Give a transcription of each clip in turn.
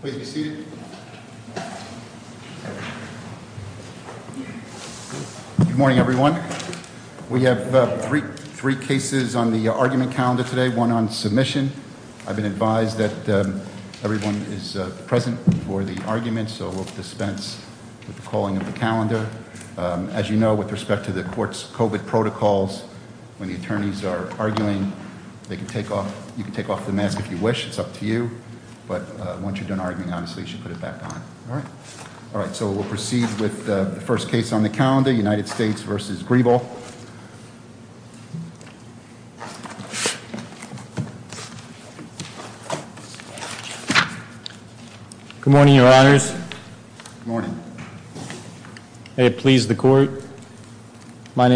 Please be seated. Good morning everyone. We have three cases on the argument calendar today, one on submission. I've been advised that everyone is present for the argument, so we'll dispense with the calling of the calendar. As you know, with respect to the court's COVID protocols, when the attorneys are arguing, you can take off the mask if you wish, it's up to you. But once you're done arguing, obviously you should put it back on. All right, so we'll proceed with the first case on the calendar, United States v. Shkreli. Good morning, Your Honors. Good morning. May it please the from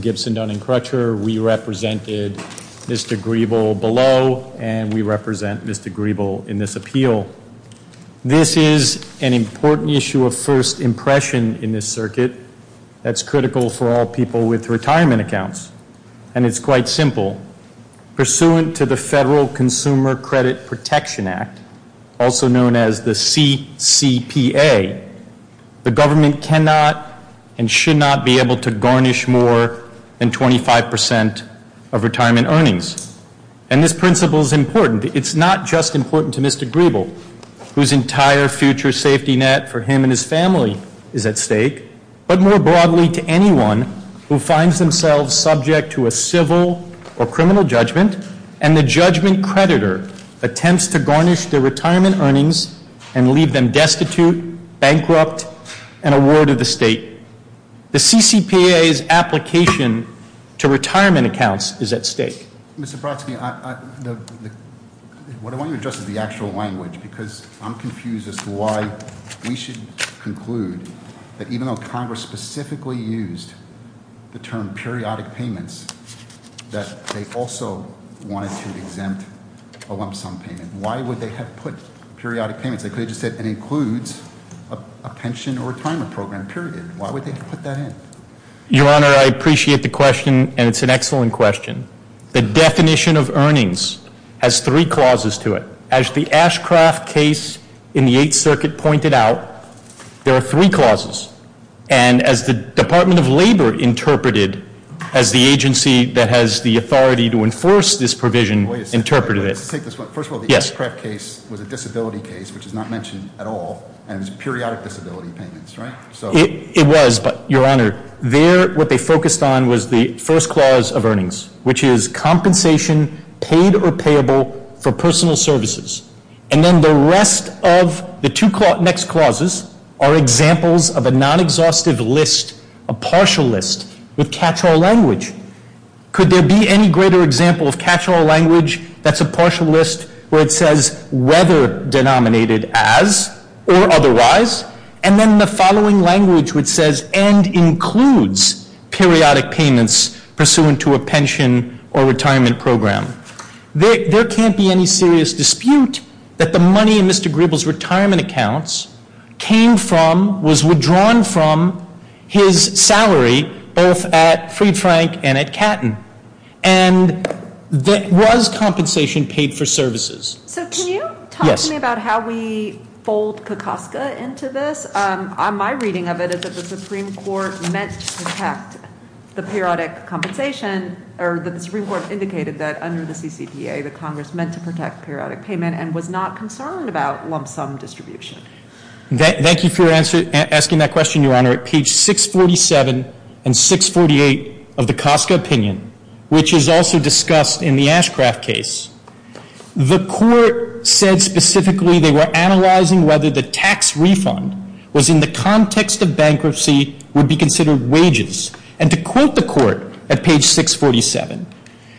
Gibson, Dunn & Crutcher. We represented Mr. Greebel below, and we represent Mr. Greebel in this appeal. This is an important issue of first impression in this circuit that's critical for all people with retirement accounts, and it's quite simple. Pursuant to the Federal Consumer Credit Protection Act, also known as the CCPA, the government cannot and should not be able to garnish more than 25 percent of retirement earnings. And this principle is important. It's not just important to Mr. Greebel, whose entire future safety net for him and his family is at stake, but more broadly to anyone who finds themselves subject to a civil or criminal judgment and the judgment creditor attempts to garnish their retirement earnings and leave them destitute, bankrupt, and a ward of the state. The CCPA's application to retirement accounts is at stake. Mr. Brodsky, what I want you to address is the actual language because I'm confused as to why we should conclude that even though Congress specifically used the term periodic payments, that they also wanted to exempt a lump sum payment. Why would they have put periodic payments? They could have just said it includes a pension or retirement program, period. Why would they put that in? Your Honor, I appreciate the question, and it's an excellent question. The definition of earnings has three clauses to it. As the Ashcraft case in the Eighth Circuit pointed out, there are three clauses. And as the Department of Labor interpreted, as the agency that has the authority to enforce this provision interpreted it. First of all, the Ashcraft case was a disability case, which is not mentioned at all, and it was periodic disability payments, right? It was, but Your Honor, there what they focused on was the first clause of earnings, which is compensation paid or payable for personal services. And then the rest of the two next clauses are examples of a non-exhaustive list, a partial list with catch-all language. Could there be any greater example of catch-all language that's a partial list where it says whether denominated as or otherwise, and then the following language which says and includes periodic payments pursuant to a pension or retirement program? There can't be any serious dispute that the money in Mr. Gribble's retirement accounts came from, was withdrawn from his salary both at Fried Frank and at Catton. And that was compensation paid for services. So can you talk to me about how we fold Kokoska into this? My reading of it is that the Supreme Court meant to protect the periodic compensation, or that the Supreme Court indicated that under the CCPA, the Congress meant to protect periodic payment and was not concerned about lump sum distribution. Thank you for asking that question, Your Honor. At page 647 and 648 of the Koska opinion, which is also discussed in the Ashcraft case, the court said specifically they were analyzing whether the tax refund was in the context of bankruptcy would be considered wages. And to quote the court at page 647,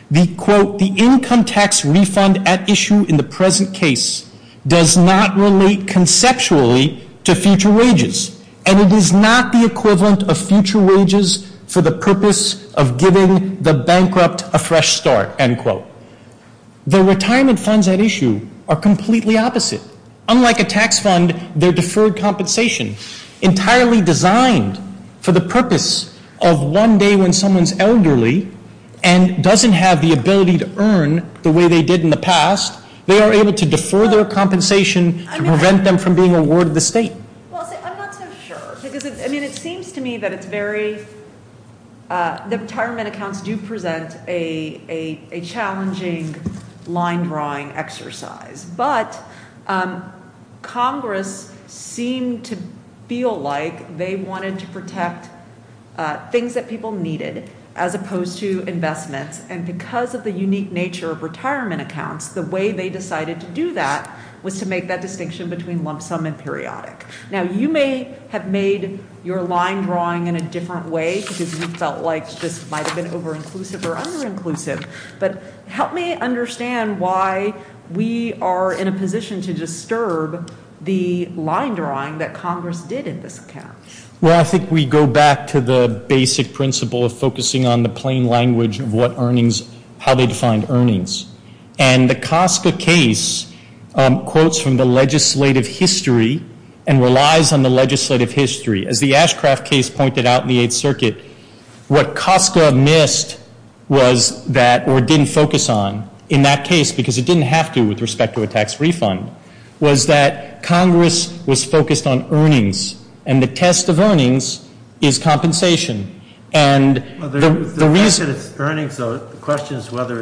the quote, the income tax refund at issue in the present case does not relate conceptually to future wages, and it is not the equivalent of future wages for the purpose of giving the bankrupt a fresh start, end quote. The retirement funds at issue are completely opposite. Unlike a tax fund, they're deferred compensation entirely designed for the purpose of one day when someone's elderly and doesn't have the ability to earn the way they did in the past, they are able to defer their compensation to prevent them from being awarded the state. Well, I'm not so sure, because I mean, it seems to me that it's very, the retirement accounts do present a challenging line drawing exercise, but Congress seemed to feel like they wanted to protect things that people needed as opposed to investments, and because of the unique nature of retirement accounts, the way they decided to do that was to make that distinction between lump sum and periodic. Now, you may have made your line drawing in a different way because you felt like this might have been over-inclusive or under-inclusive, but help me understand why we are in a position to disturb the line drawing that Congress did in this account. Well, I think we go back to the basic principle of focusing on the plain language of what earnings, how they defined earnings, and the COSCA case quotes from the legislative history and relies on the legislative history. As the Ashcraft case pointed out in the Eighth Circuit, what COSCA missed was that, or didn't focus on in that case, because it didn't have to with respect to a tax refund, was that Congress was focused on earnings, and the test of earnings is compensation. The question is whether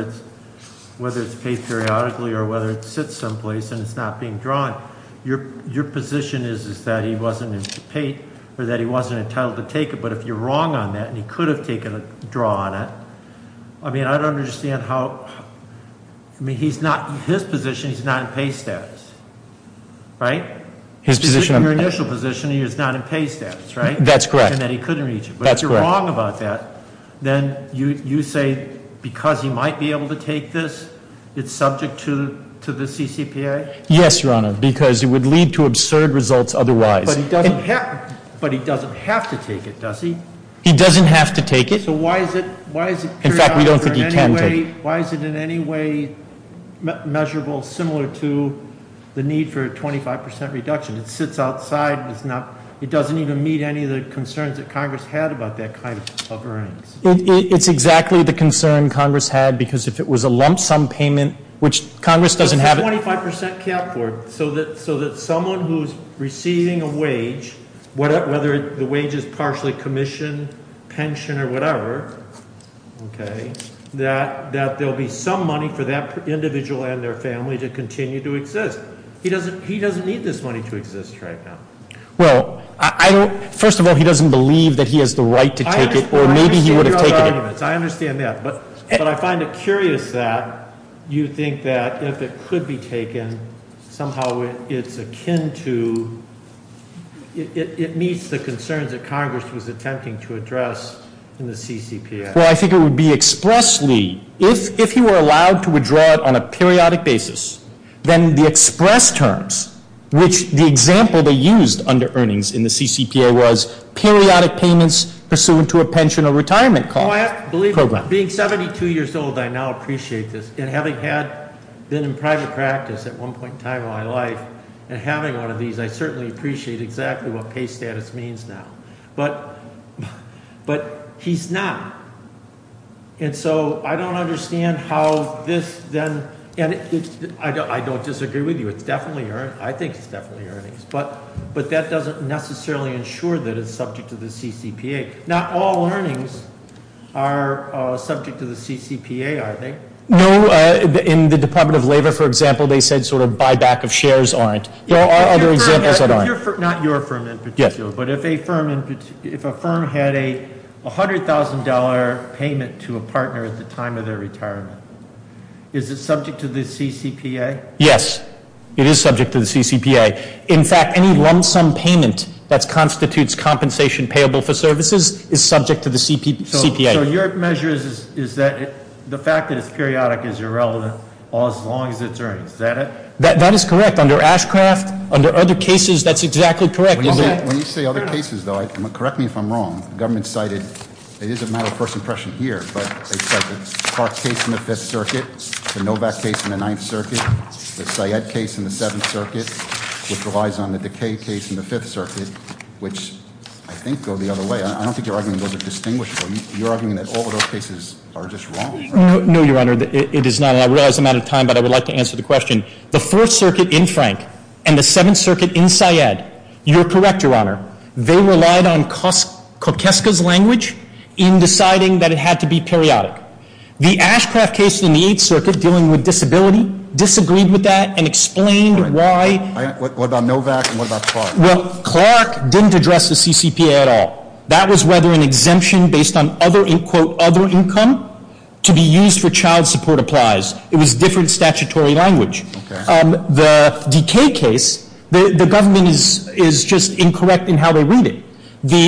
it's paid periodically or whether it sits someplace and it's not being drawn. Your position is that he wasn't entitled to take it, but if you're wrong on that, and he could have taken a draw on it, I mean, I don't understand how, I mean, his position, he's not in pay status, right? His position, your initial position, he is not in pay status, right? That's correct. And that he couldn't reach it, but if you're wrong about that, then you say because he might be able to take this, it's subject to the CCPA? Yes, Your Honor, because it would lead to absurd results otherwise. But he doesn't have to take it, does he? He doesn't have to take it. So why is it, why is it, in fact, we don't think he can take it. Why is it in any way measurable similar to the need for a 25 percent reduction? It sits outside, it's not, it doesn't even meet any of the concerns that Congress had about that kind of earnings. It's exactly the concern Congress had, because if it was a lump sum payment, which Congress doesn't have. 25 percent cap for it, so that, so that someone who's receiving a wage, whether the wage is partially commission, pension, or whatever, okay, that, that there'll be some money for that individual and their family to continue to exist. He doesn't, he doesn't need this money to exist right now. Well, I don't, first of all, he doesn't believe that he has the right to take it, or maybe he would have taken it. I understand that, but, but I find it curious that you think that if it could be addressed in the CCPA. Well, I think it would be expressly, if, if you were allowed to withdraw it on a periodic basis, then the express terms, which the example they used under earnings in the CCPA was periodic payments pursuant to a pension or retirement cost. I believe, being 72 years old, I now appreciate this, and having had been in private practice at one point in time of my life, and having one of these, I certainly appreciate exactly what pay status means now. But, but he's not, and so I don't understand how this then, and it's, I don't, I don't disagree with you. It's definitely earnings, I think it's definitely earnings, but, but that doesn't necessarily ensure that it's subject to the CCPA. Not all earnings are subject to the CCPA, are they? No, in the Department of Labor, for example, they said sort of buyback of shares aren't. There are other examples that aren't. If your firm, not your firm in particular, but if a firm in, if a firm had a $100,000 payment to a partner at the time of their retirement, is it subject to the CCPA? Yes, it is subject to the CCPA. In fact, any lump sum payment that constitutes compensation payable for services is subject to the CPA. So, so your measure is, is that the fact that it's periodic is irrelevant as long as it's earnings, is that it? That, that is correct. Under Ashcraft, under other cases, that's exactly correct, is it? When you say other cases, though, correct me if I'm wrong, the government cited, it is a matter of first impression here, but they cite the Park case in the Fifth Circuit, the Novak case in the Ninth Circuit, the Syed case in the Seventh Circuit, which relies on the Decay case in the Fifth Circuit, which I think go the other way. I don't think you're arguing those are distinguishable. You're arguing that all of those cases are just wrong. No, Your Honor, it is not, and I realize I'm out of time, but I would like to answer the question. The Fourth Circuit in Frank and the Seventh Circuit in Syed, you're correct, Your Honor, they relied on Kokeska's language in deciding that it had to be periodic. The Ashcraft case in the Eighth Circuit dealing with disability disagreed with that and explained why. What about Novak and what about Clark? Well, Clark didn't address the CCPA at all. That was whether an exemption based on other, quote, other income to be used for child support applies. It was different statutory language. The Decay case, the government is just incorrect in how they read it.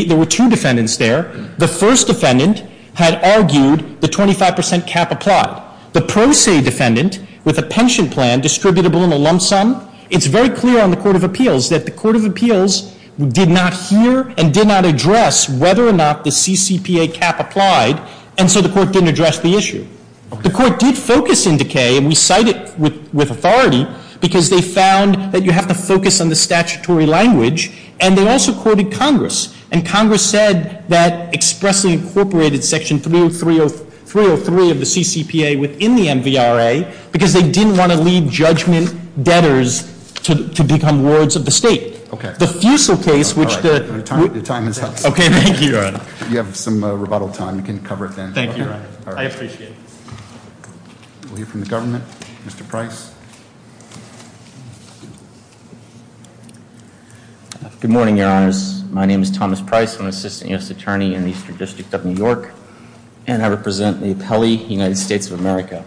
There were two defendants there. The first defendant had argued the 25 percent cap applied. The Pro Se defendant, with a pension plan distributable in a lump sum, it's very clear on the Court of Appeals that the Court of Appeals did not hear and did not address whether or not the CCPA cap applied, and so the Court didn't address the issue. The Court did focus in Decay, and we cite it with authority, because they found that you have to focus on the statutory language, and they also quoted Congress. And Congress said that expressly incorporated Section 303 of the CCPA within the MVRA because they didn't want to lead judgment debtors to become wards of the state. Okay. The Fusil case, which the... Your time has passed. Okay, thank you, Your Honor. You have some rebuttal time. You can cover it then. Thank you, Your Honor. I appreciate it. We'll hear from the government. Mr. Price. Good morning, Your Honors. My name is Thomas Price. I'm an Assistant U.S. Attorney in the Eastern District of New York, and I represent the appellee, United States of America.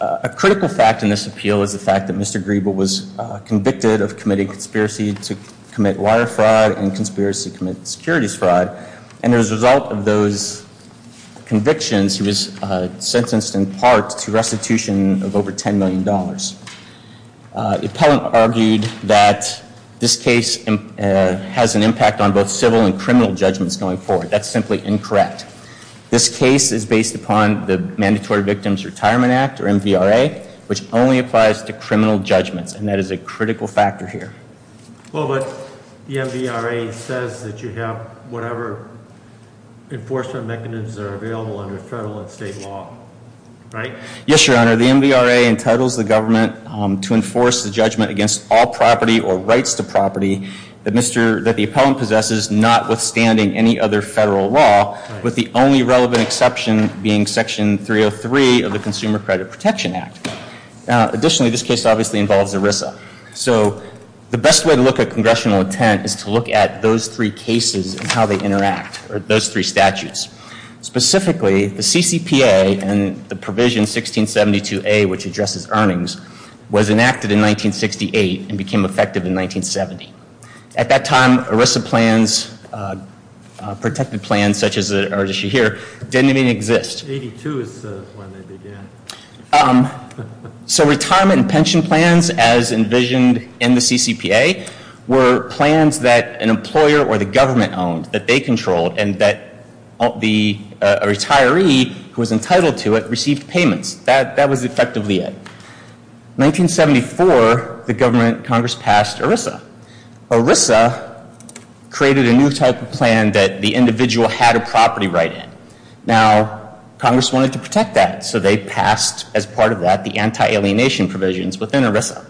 A critical fact in this appeal is the fact that Mr. Griebel was convicted of committing conspiracy to commit wire fraud and conspiracy to commit securities fraud, and as a result of those convictions, he was sentenced in part to restitution of over 10 million dollars. The appellant argued that this case has an impact on both civil and criminal judgments going forward. That's simply incorrect. This case is based upon the Mandatory Victims Retirement Act, or MVRA, which only applies to criminal judgments, and that is a critical factor here. Well, but the MVRA says that you have whatever enforcement mechanisms are available under federal and state law, right? Yes, Your Honor. The MVRA entitles the government to enforce the judgment against all property or rights to property that the appellant possesses, notwithstanding any other federal law, with the only relevant exception being Section 303 of the Consumer Credit Protection Act. Now, additionally, this case obviously involves ERISA. So the best way to look at congressional intent is to look at those three cases and how they interact, or those three statutes. Specifically, the CCPA and the provision 1672A, which addresses earnings, was a protected plan such as the one you see here, didn't even exist. So retirement and pension plans, as envisioned in the CCPA, were plans that an employer or the government owned, that they controlled, and that the retiree who was entitled to it received payments. That was effectively it. In 1974, the government, Congress, passed ERISA. ERISA created a new type of plan that the individual had a property right in. Now, Congress wanted to protect that, so they passed, as part of that, the anti-alienation provisions within ERISA.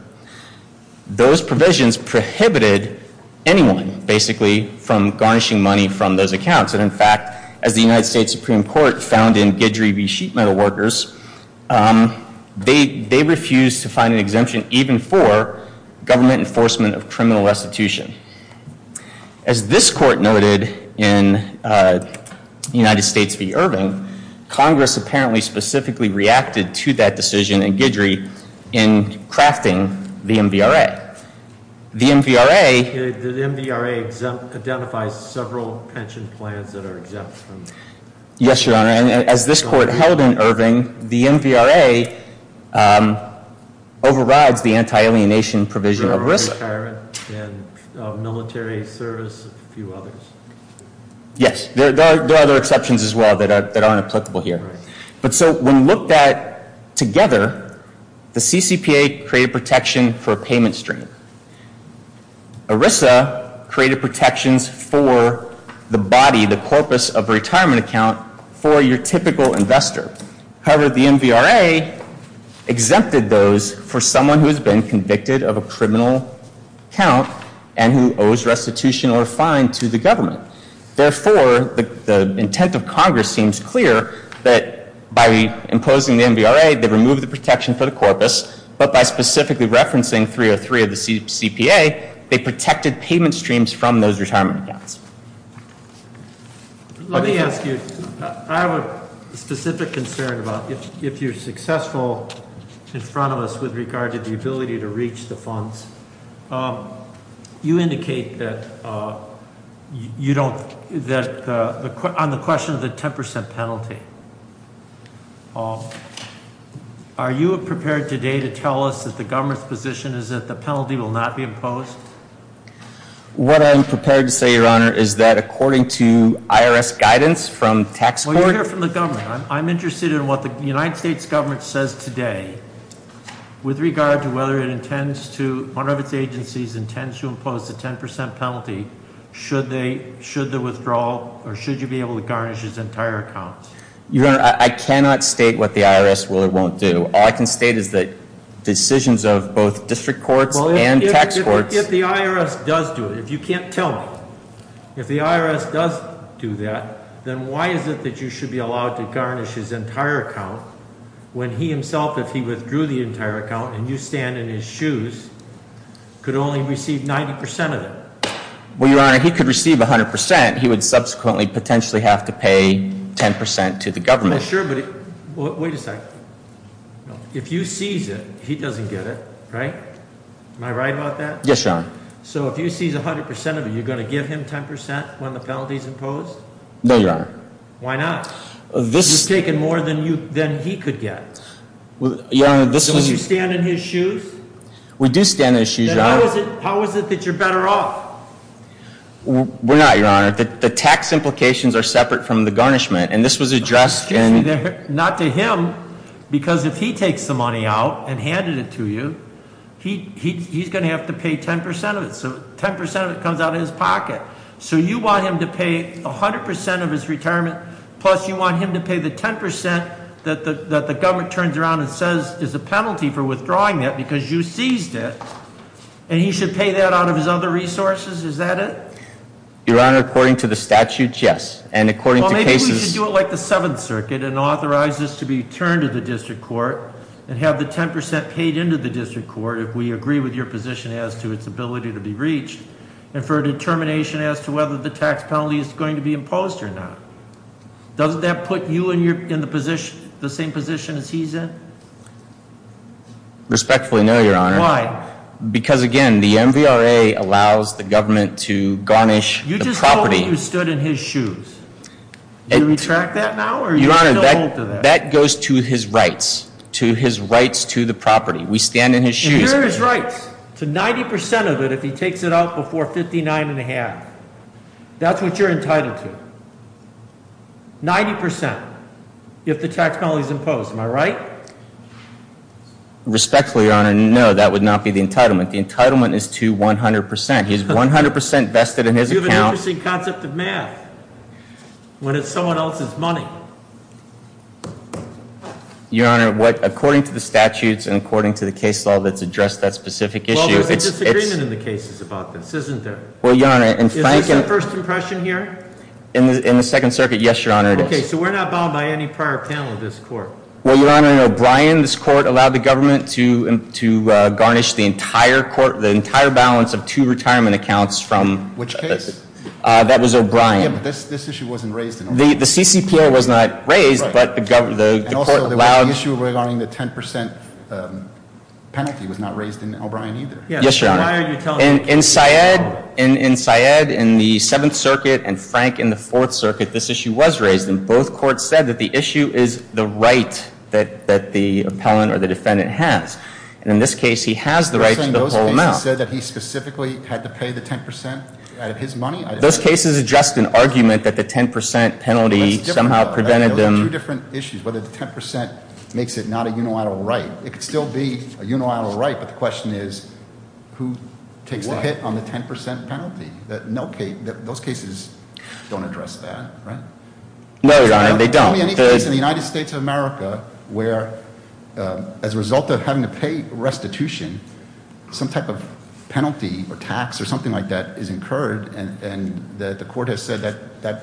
Those provisions prohibited anyone, basically, from garnishing money from those accounts. And, in fact, as the United States Supreme Court found in Guidry v. Sheet Metal Workers, they refused to find an exemption even for government enforcement of criminal restitution. As this court noted in United States v. Irving, Congress apparently specifically reacted to that decision in Guidry in crafting the MVRA. The MVRA identifies several pension plans that are exempt. Yes, Your Honor, and as this court held in Irving, the MVRA um, overrides the anti-alienation provision of ERISA. Retirement and military service, a few others. Yes, there are other exceptions as well that aren't applicable here. But, so, when looked at together, the CCPA created protection for payment stream. ERISA created protections for the body, the corpus of a retirement account, for your typical investor. However, the MVRA exempted those for someone who has been convicted of a criminal account and who owes restitution or fine to the government. Therefore, the intent of Congress seems clear that by imposing the MVRA, they removed the protection for the corpus, but by specifically referencing 303 of the CCPA, they protected payment streams from those retirement accounts. Let me ask you, I have a specific concern about if you're successful in front of us with regard to the ability to reach the funds. You indicate that you don't, that on the question of the 10% penalty, Paul, are you prepared today to tell us that the government's position is that penalty will not be imposed? What I'm prepared to say, your honor, is that according to IRS guidance from tax court. Well, you're here from the government. I'm interested in what the United States government says today with regard to whether it intends to, one of its agencies, intends to impose the 10% penalty, should they, should the withdrawal, or should you be able to garnish his entire account? Your honor, I cannot state what the IRS will or won't do. All I can state is that decisions of both district courts and tax courts. If the IRS does do it, if you can't tell me, if the IRS does do that, then why is it that you should be allowed to garnish his entire account when he himself, if he withdrew the entire account and you stand in his shoes, could only receive 90% of it? Well, your honor, he could receive 100%. He would subsequently potentially have to pay 10% to the government. Well, sure, but wait a second. If you seize it, he doesn't get it, right? Am I right about that? Yes, your honor. So if you seize 100% of it, you're going to give him 10% when the penalty is imposed? No, your honor. Why not? This is taking more than you, than he could get. Well, your honor, this was. So you stand in his shoes? We do stand in his shoes, your honor. Then how is it, how is it that you're better off? We're not, your honor. The tax implications are separate from the garnishment, and this was addressed. Not to him, because if he takes the money out and handed it to you, he's going to have to pay 10% of it. So 10% of it comes out of his pocket. So you want him to pay 100% of his retirement, plus you want him to pay the 10% that the government turns around and says is a is that it? Your honor, according to the statute, yes, and according to cases. Well, maybe we should do it like the Seventh Circuit and authorize this to be turned to the district court and have the 10% paid into the district court if we agree with your position as to its ability to be reached, and for a determination as to whether the tax penalty is going to be imposed or not. Doesn't that put you in the position, the same position as he's in? Respectfully no, your honor. Why? Because again, the MVRA allows the government to garnish the property. You just told me you stood in his shoes. Do you retract that now, or are you still hold to that? That goes to his rights, to his rights to the property. We stand in his shoes. And here are his rights to 90% of it if he takes it out before 59 and a half. That's what you're entitled to. 90% if the tax penalty is imposed, am I right? Respectfully, your honor, no, that would not be the entitlement. The entitlement is to 100%. He's 100% vested in his account. You have an interesting concept of math when it's someone else's money. Your honor, according to the statutes and according to the case law that's addressed that specific issue, it's... Well, there's a disagreement in the cases about this, isn't there? Well, your honor, in fact... Is this a first impression here? In the Second Circuit, yes, your honor, it is. Okay, so we're not bound by any prior panel of Well, your honor, in O'Brien, this court allowed the government to garnish the entire court, the entire balance of two retirement accounts from... Which case? That was O'Brien. Yeah, but this issue wasn't raised in O'Brien. The CCPO was not raised, but the court allowed... And also, there was an issue regarding the 10% penalty was not raised in O'Brien either. Yes, your honor, in Syed, in Syed, in the Seventh Circuit and Frank in the Fourth Circuit, this issue was raised, and both courts said that the issue is the right that the appellant or the defendant has, and in this case, he has the right to the whole amount. You're saying those cases said that he specifically had to pay the 10% out of his money? Those cases are just an argument that the 10% penalty somehow prevented them... There were two different issues, whether the 10% makes it not a unilateral right. It could still be a unilateral right, but the question is, who takes the hit on the 10% penalty? Those cases don't address that, right? No, your honor, they don't. Tell me any case in the United States of America where, as a result of having to pay restitution, some type of penalty or tax or something like that is incurred, and the court has said that,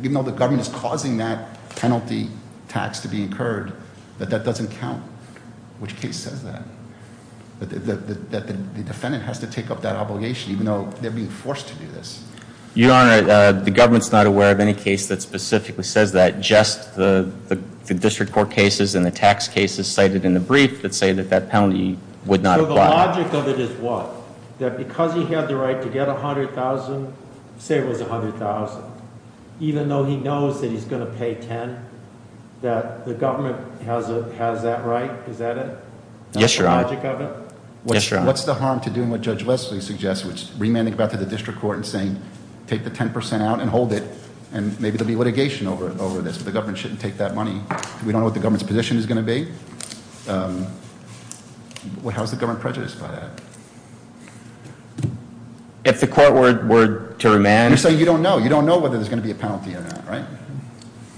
even though the government is causing that penalty tax to be incurred, that that doesn't count. Which case says that? That the defendant has to take up that obligation, even though they're being forced to do this? Your honor, the government's not aware of any case that specifically says that. Just the district court cases and the tax cases cited in the brief that say that that penalty would not apply. So the logic of it is what? That because he had the right to get $100,000, say it was $100,000, even though he knows that he's going to pay $10,000, that the government has that right? Is that it? Yes, your honor. That's the logic of it? Yes, your honor. What's the harm to doing what Judge Leslie suggests, which is remanding back to the district court and saying, take the 10% out and hold it, and maybe there'll be litigation over this, but the government shouldn't take that money. We don't know what the government's position is going to be. How's the government prejudiced by that? If the court were to remand... You're saying you don't know. You don't know whether there's going to be a penalty or not, right?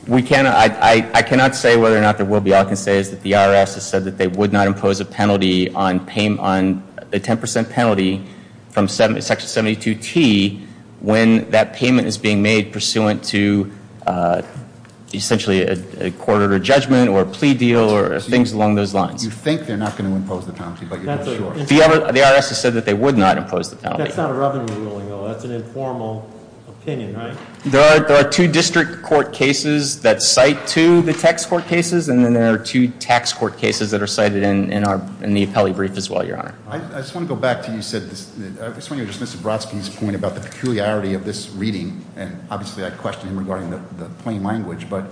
We cannot, I cannot say whether or not there will be. The IRS has said that they would not impose a penalty on the 10% penalty from Section 72T when that payment is being made pursuant to essentially a court order judgment or a plea deal or things along those lines. You think they're not going to impose the penalty, but you're not sure. The IRS has said that they would not impose the penalty. That's not a revenue ruling, though. That's an informal opinion, right? There are two district court cases that cite to the tax court cases, and then there are two tax court cases that are cited in the appellee brief as well, Your Honor. I just want to go back to what you said. I just want to address Mr. Brodsky's point about the peculiarity of this reading, and obviously I question him regarding the plain language. But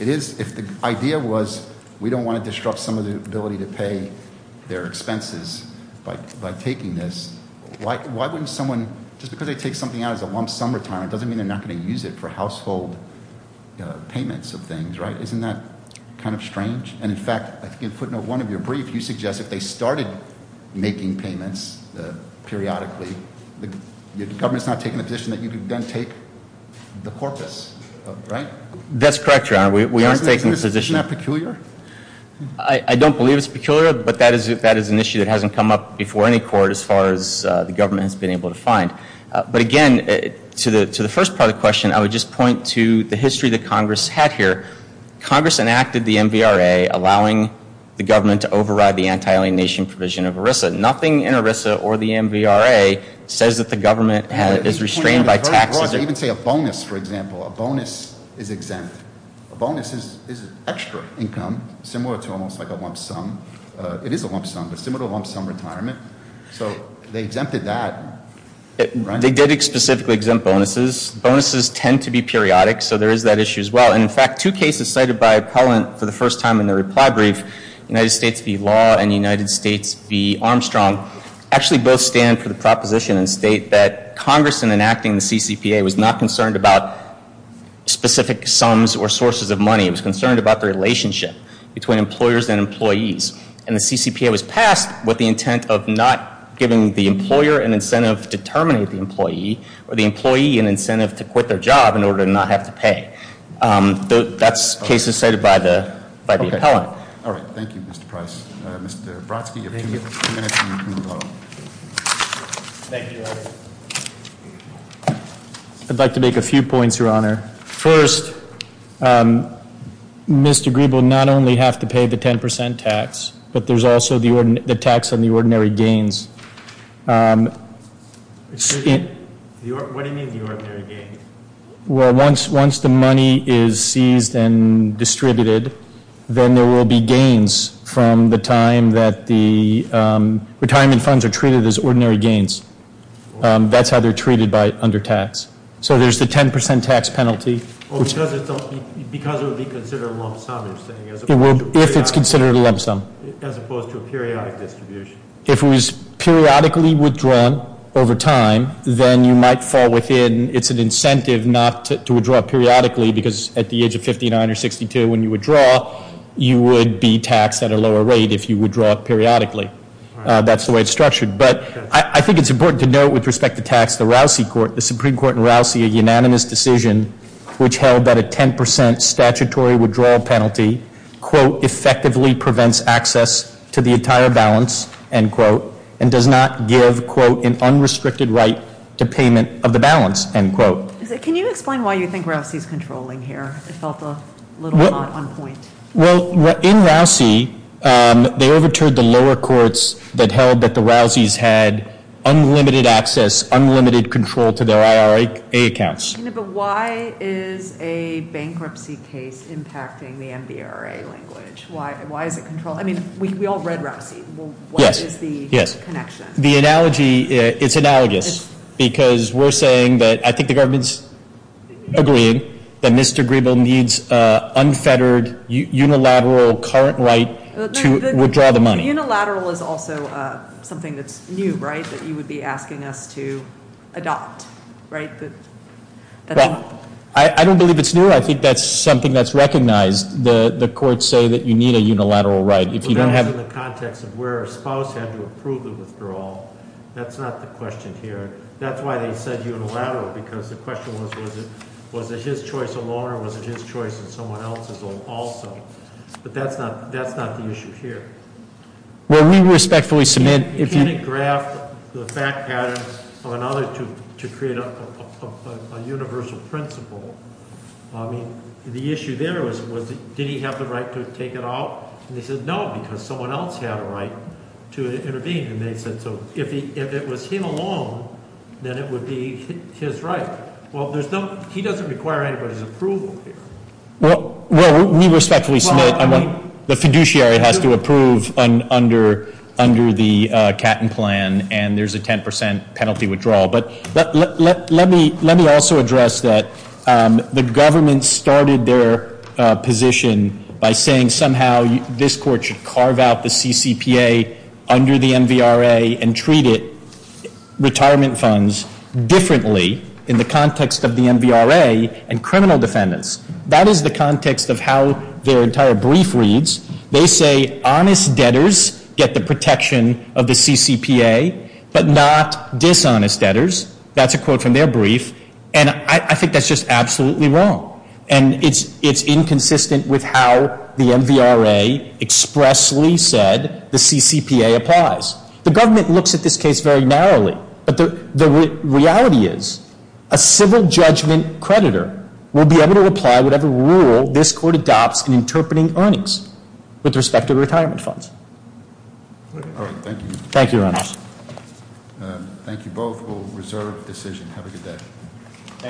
if the idea was we don't want to disrupt some of the ability to pay their expenses by taking this, why wouldn't someone... Just because they take something out as a lump sum retirement doesn't mean they're not going to use it for household payments of things, right? Isn't that kind of strange? And in fact, I think in footnote one of your brief, you suggest if they started making payments periodically, the government's not taking the position that you can then take the corpus, right? That's correct, Your Honor. We aren't taking the position... Isn't that peculiar? I don't believe it's peculiar, but that is an issue that hasn't come up before any court as far as the government has been able to find. But again, to the first part of the question, I would just point to the history that Congress had here. Congress enacted the MVRA, allowing the government to override the anti-alienation provision of ERISA. Nothing in ERISA or the MVRA says that the government is restrained by taxes or... Even say a bonus, for example. A bonus is exempt. A bonus is extra income, similar to almost like a lump sum. It is a lump sum, but similar to a lump sum retirement. So they exempted that. They did specifically exempt bonuses. Bonuses tend to be periodic, so there is that issue as well. And in fact, two cases cited by appellant for the first time in their reply brief, United States v. Law and United States v. Armstrong, actually both stand for the proposition and state that Congress in enacting the CCPA was not concerned about specific sums or sources of money. It was concerned about the relationship between employers and employees. And the CCPA was passed with the intent of not giving the employer an incentive to terminate the employee, or the employee an incentive to quit their job in order to not have to pay. That's cases cited by the appellant. All right. Thank you, Mr. Price. Mr. Brodsky, you have two minutes and you can move on. Thank you, Larry. I'd like to make a few points, Your Honor. First, Mr. Green will not only have to pay the 10% tax, but there's also the tax on the ordinary gains. What do you mean the ordinary gains? Well, once the money is seized and distributed, then there will be gains from the time that the retirement funds are treated as ordinary gains. That's how they're treated by under tax. So there's the 10% tax penalty. Oh, because it would be considered a lump sum, you're saying? If it's considered a lump sum. As opposed to a periodic distribution. If it was periodically withdrawn over time, then you might fall within, it's an incentive not to withdraw periodically, because at the age of 59 or 62 when you withdraw, you would be taxed at a lower rate if you withdraw periodically. That's the way it's structured. But I think it's important to note with respect to tax, the Rousey Court, the Supreme Court in Rousey, a unanimous decision which held that a 10% statutory withdrawal penalty, quote, effectively prevents access to the entire balance, end quote, and does not give, quote, an unrestricted right to payment of the balance, end quote. Can you explain why you think Rousey's controlling here? It felt a little not on point. Well, in Rousey, they overturned the lower courts that held that the Rousey's had unlimited access, unlimited control to their IRA accounts. But why is a bankruptcy case impacting the NBRA language? Why is it controlling? I mean, we all read Rousey. What is the connection? The analogy, it's analogous. Because we're saying that I think the government's agreeing that Mr. Griebel needs unfettered, unilateral current right to withdraw the money. The unilateral is also something that's new, right? That you would be asking us to adopt, right? Well, I don't believe it's new. I think that's something that's recognized. The courts say that you need a unilateral right. If you don't have- But that's in the context of where a spouse had to approve the withdrawal. That's not the question here. That's why they said unilateral, because the question was, was it his choice alone or was it his choice and someone else's also? But that's not the issue here. Well, we respectfully submit- Can it graph the fact pattern of another to create a universal principle? I mean, the issue there was, did he have the right to take it out? And they said, no, because someone else had a right to intervene. And they said, so if it was him alone, then it would be his right. Well, he doesn't require anybody's approval here. Well, we respectfully submit the fiduciary has to approve under the Catton Plan and there's a 10% penalty withdrawal. But let me also address that the government started their position by saying somehow this court should carve out the CCPA under the NVRA and treat it, retirement funds, differently in the context of the NVRA and criminal defendants. That is the context of how their entire brief reads. They say honest debtors get the protection of the CCPA, but not dishonest debtors. That's a quote from their brief. And I think that's just absolutely wrong. And it's inconsistent with how the NVRA expressly said the CCPA applies. The government looks at this case very narrowly. But the reality is, a civil judgment creditor will be able to apply whatever rule this court adopts in interpreting earnings. With respect to retirement funds. All right, thank you. Thank you, Your Honor. Thank you both. We'll reserve decision. Have a good day.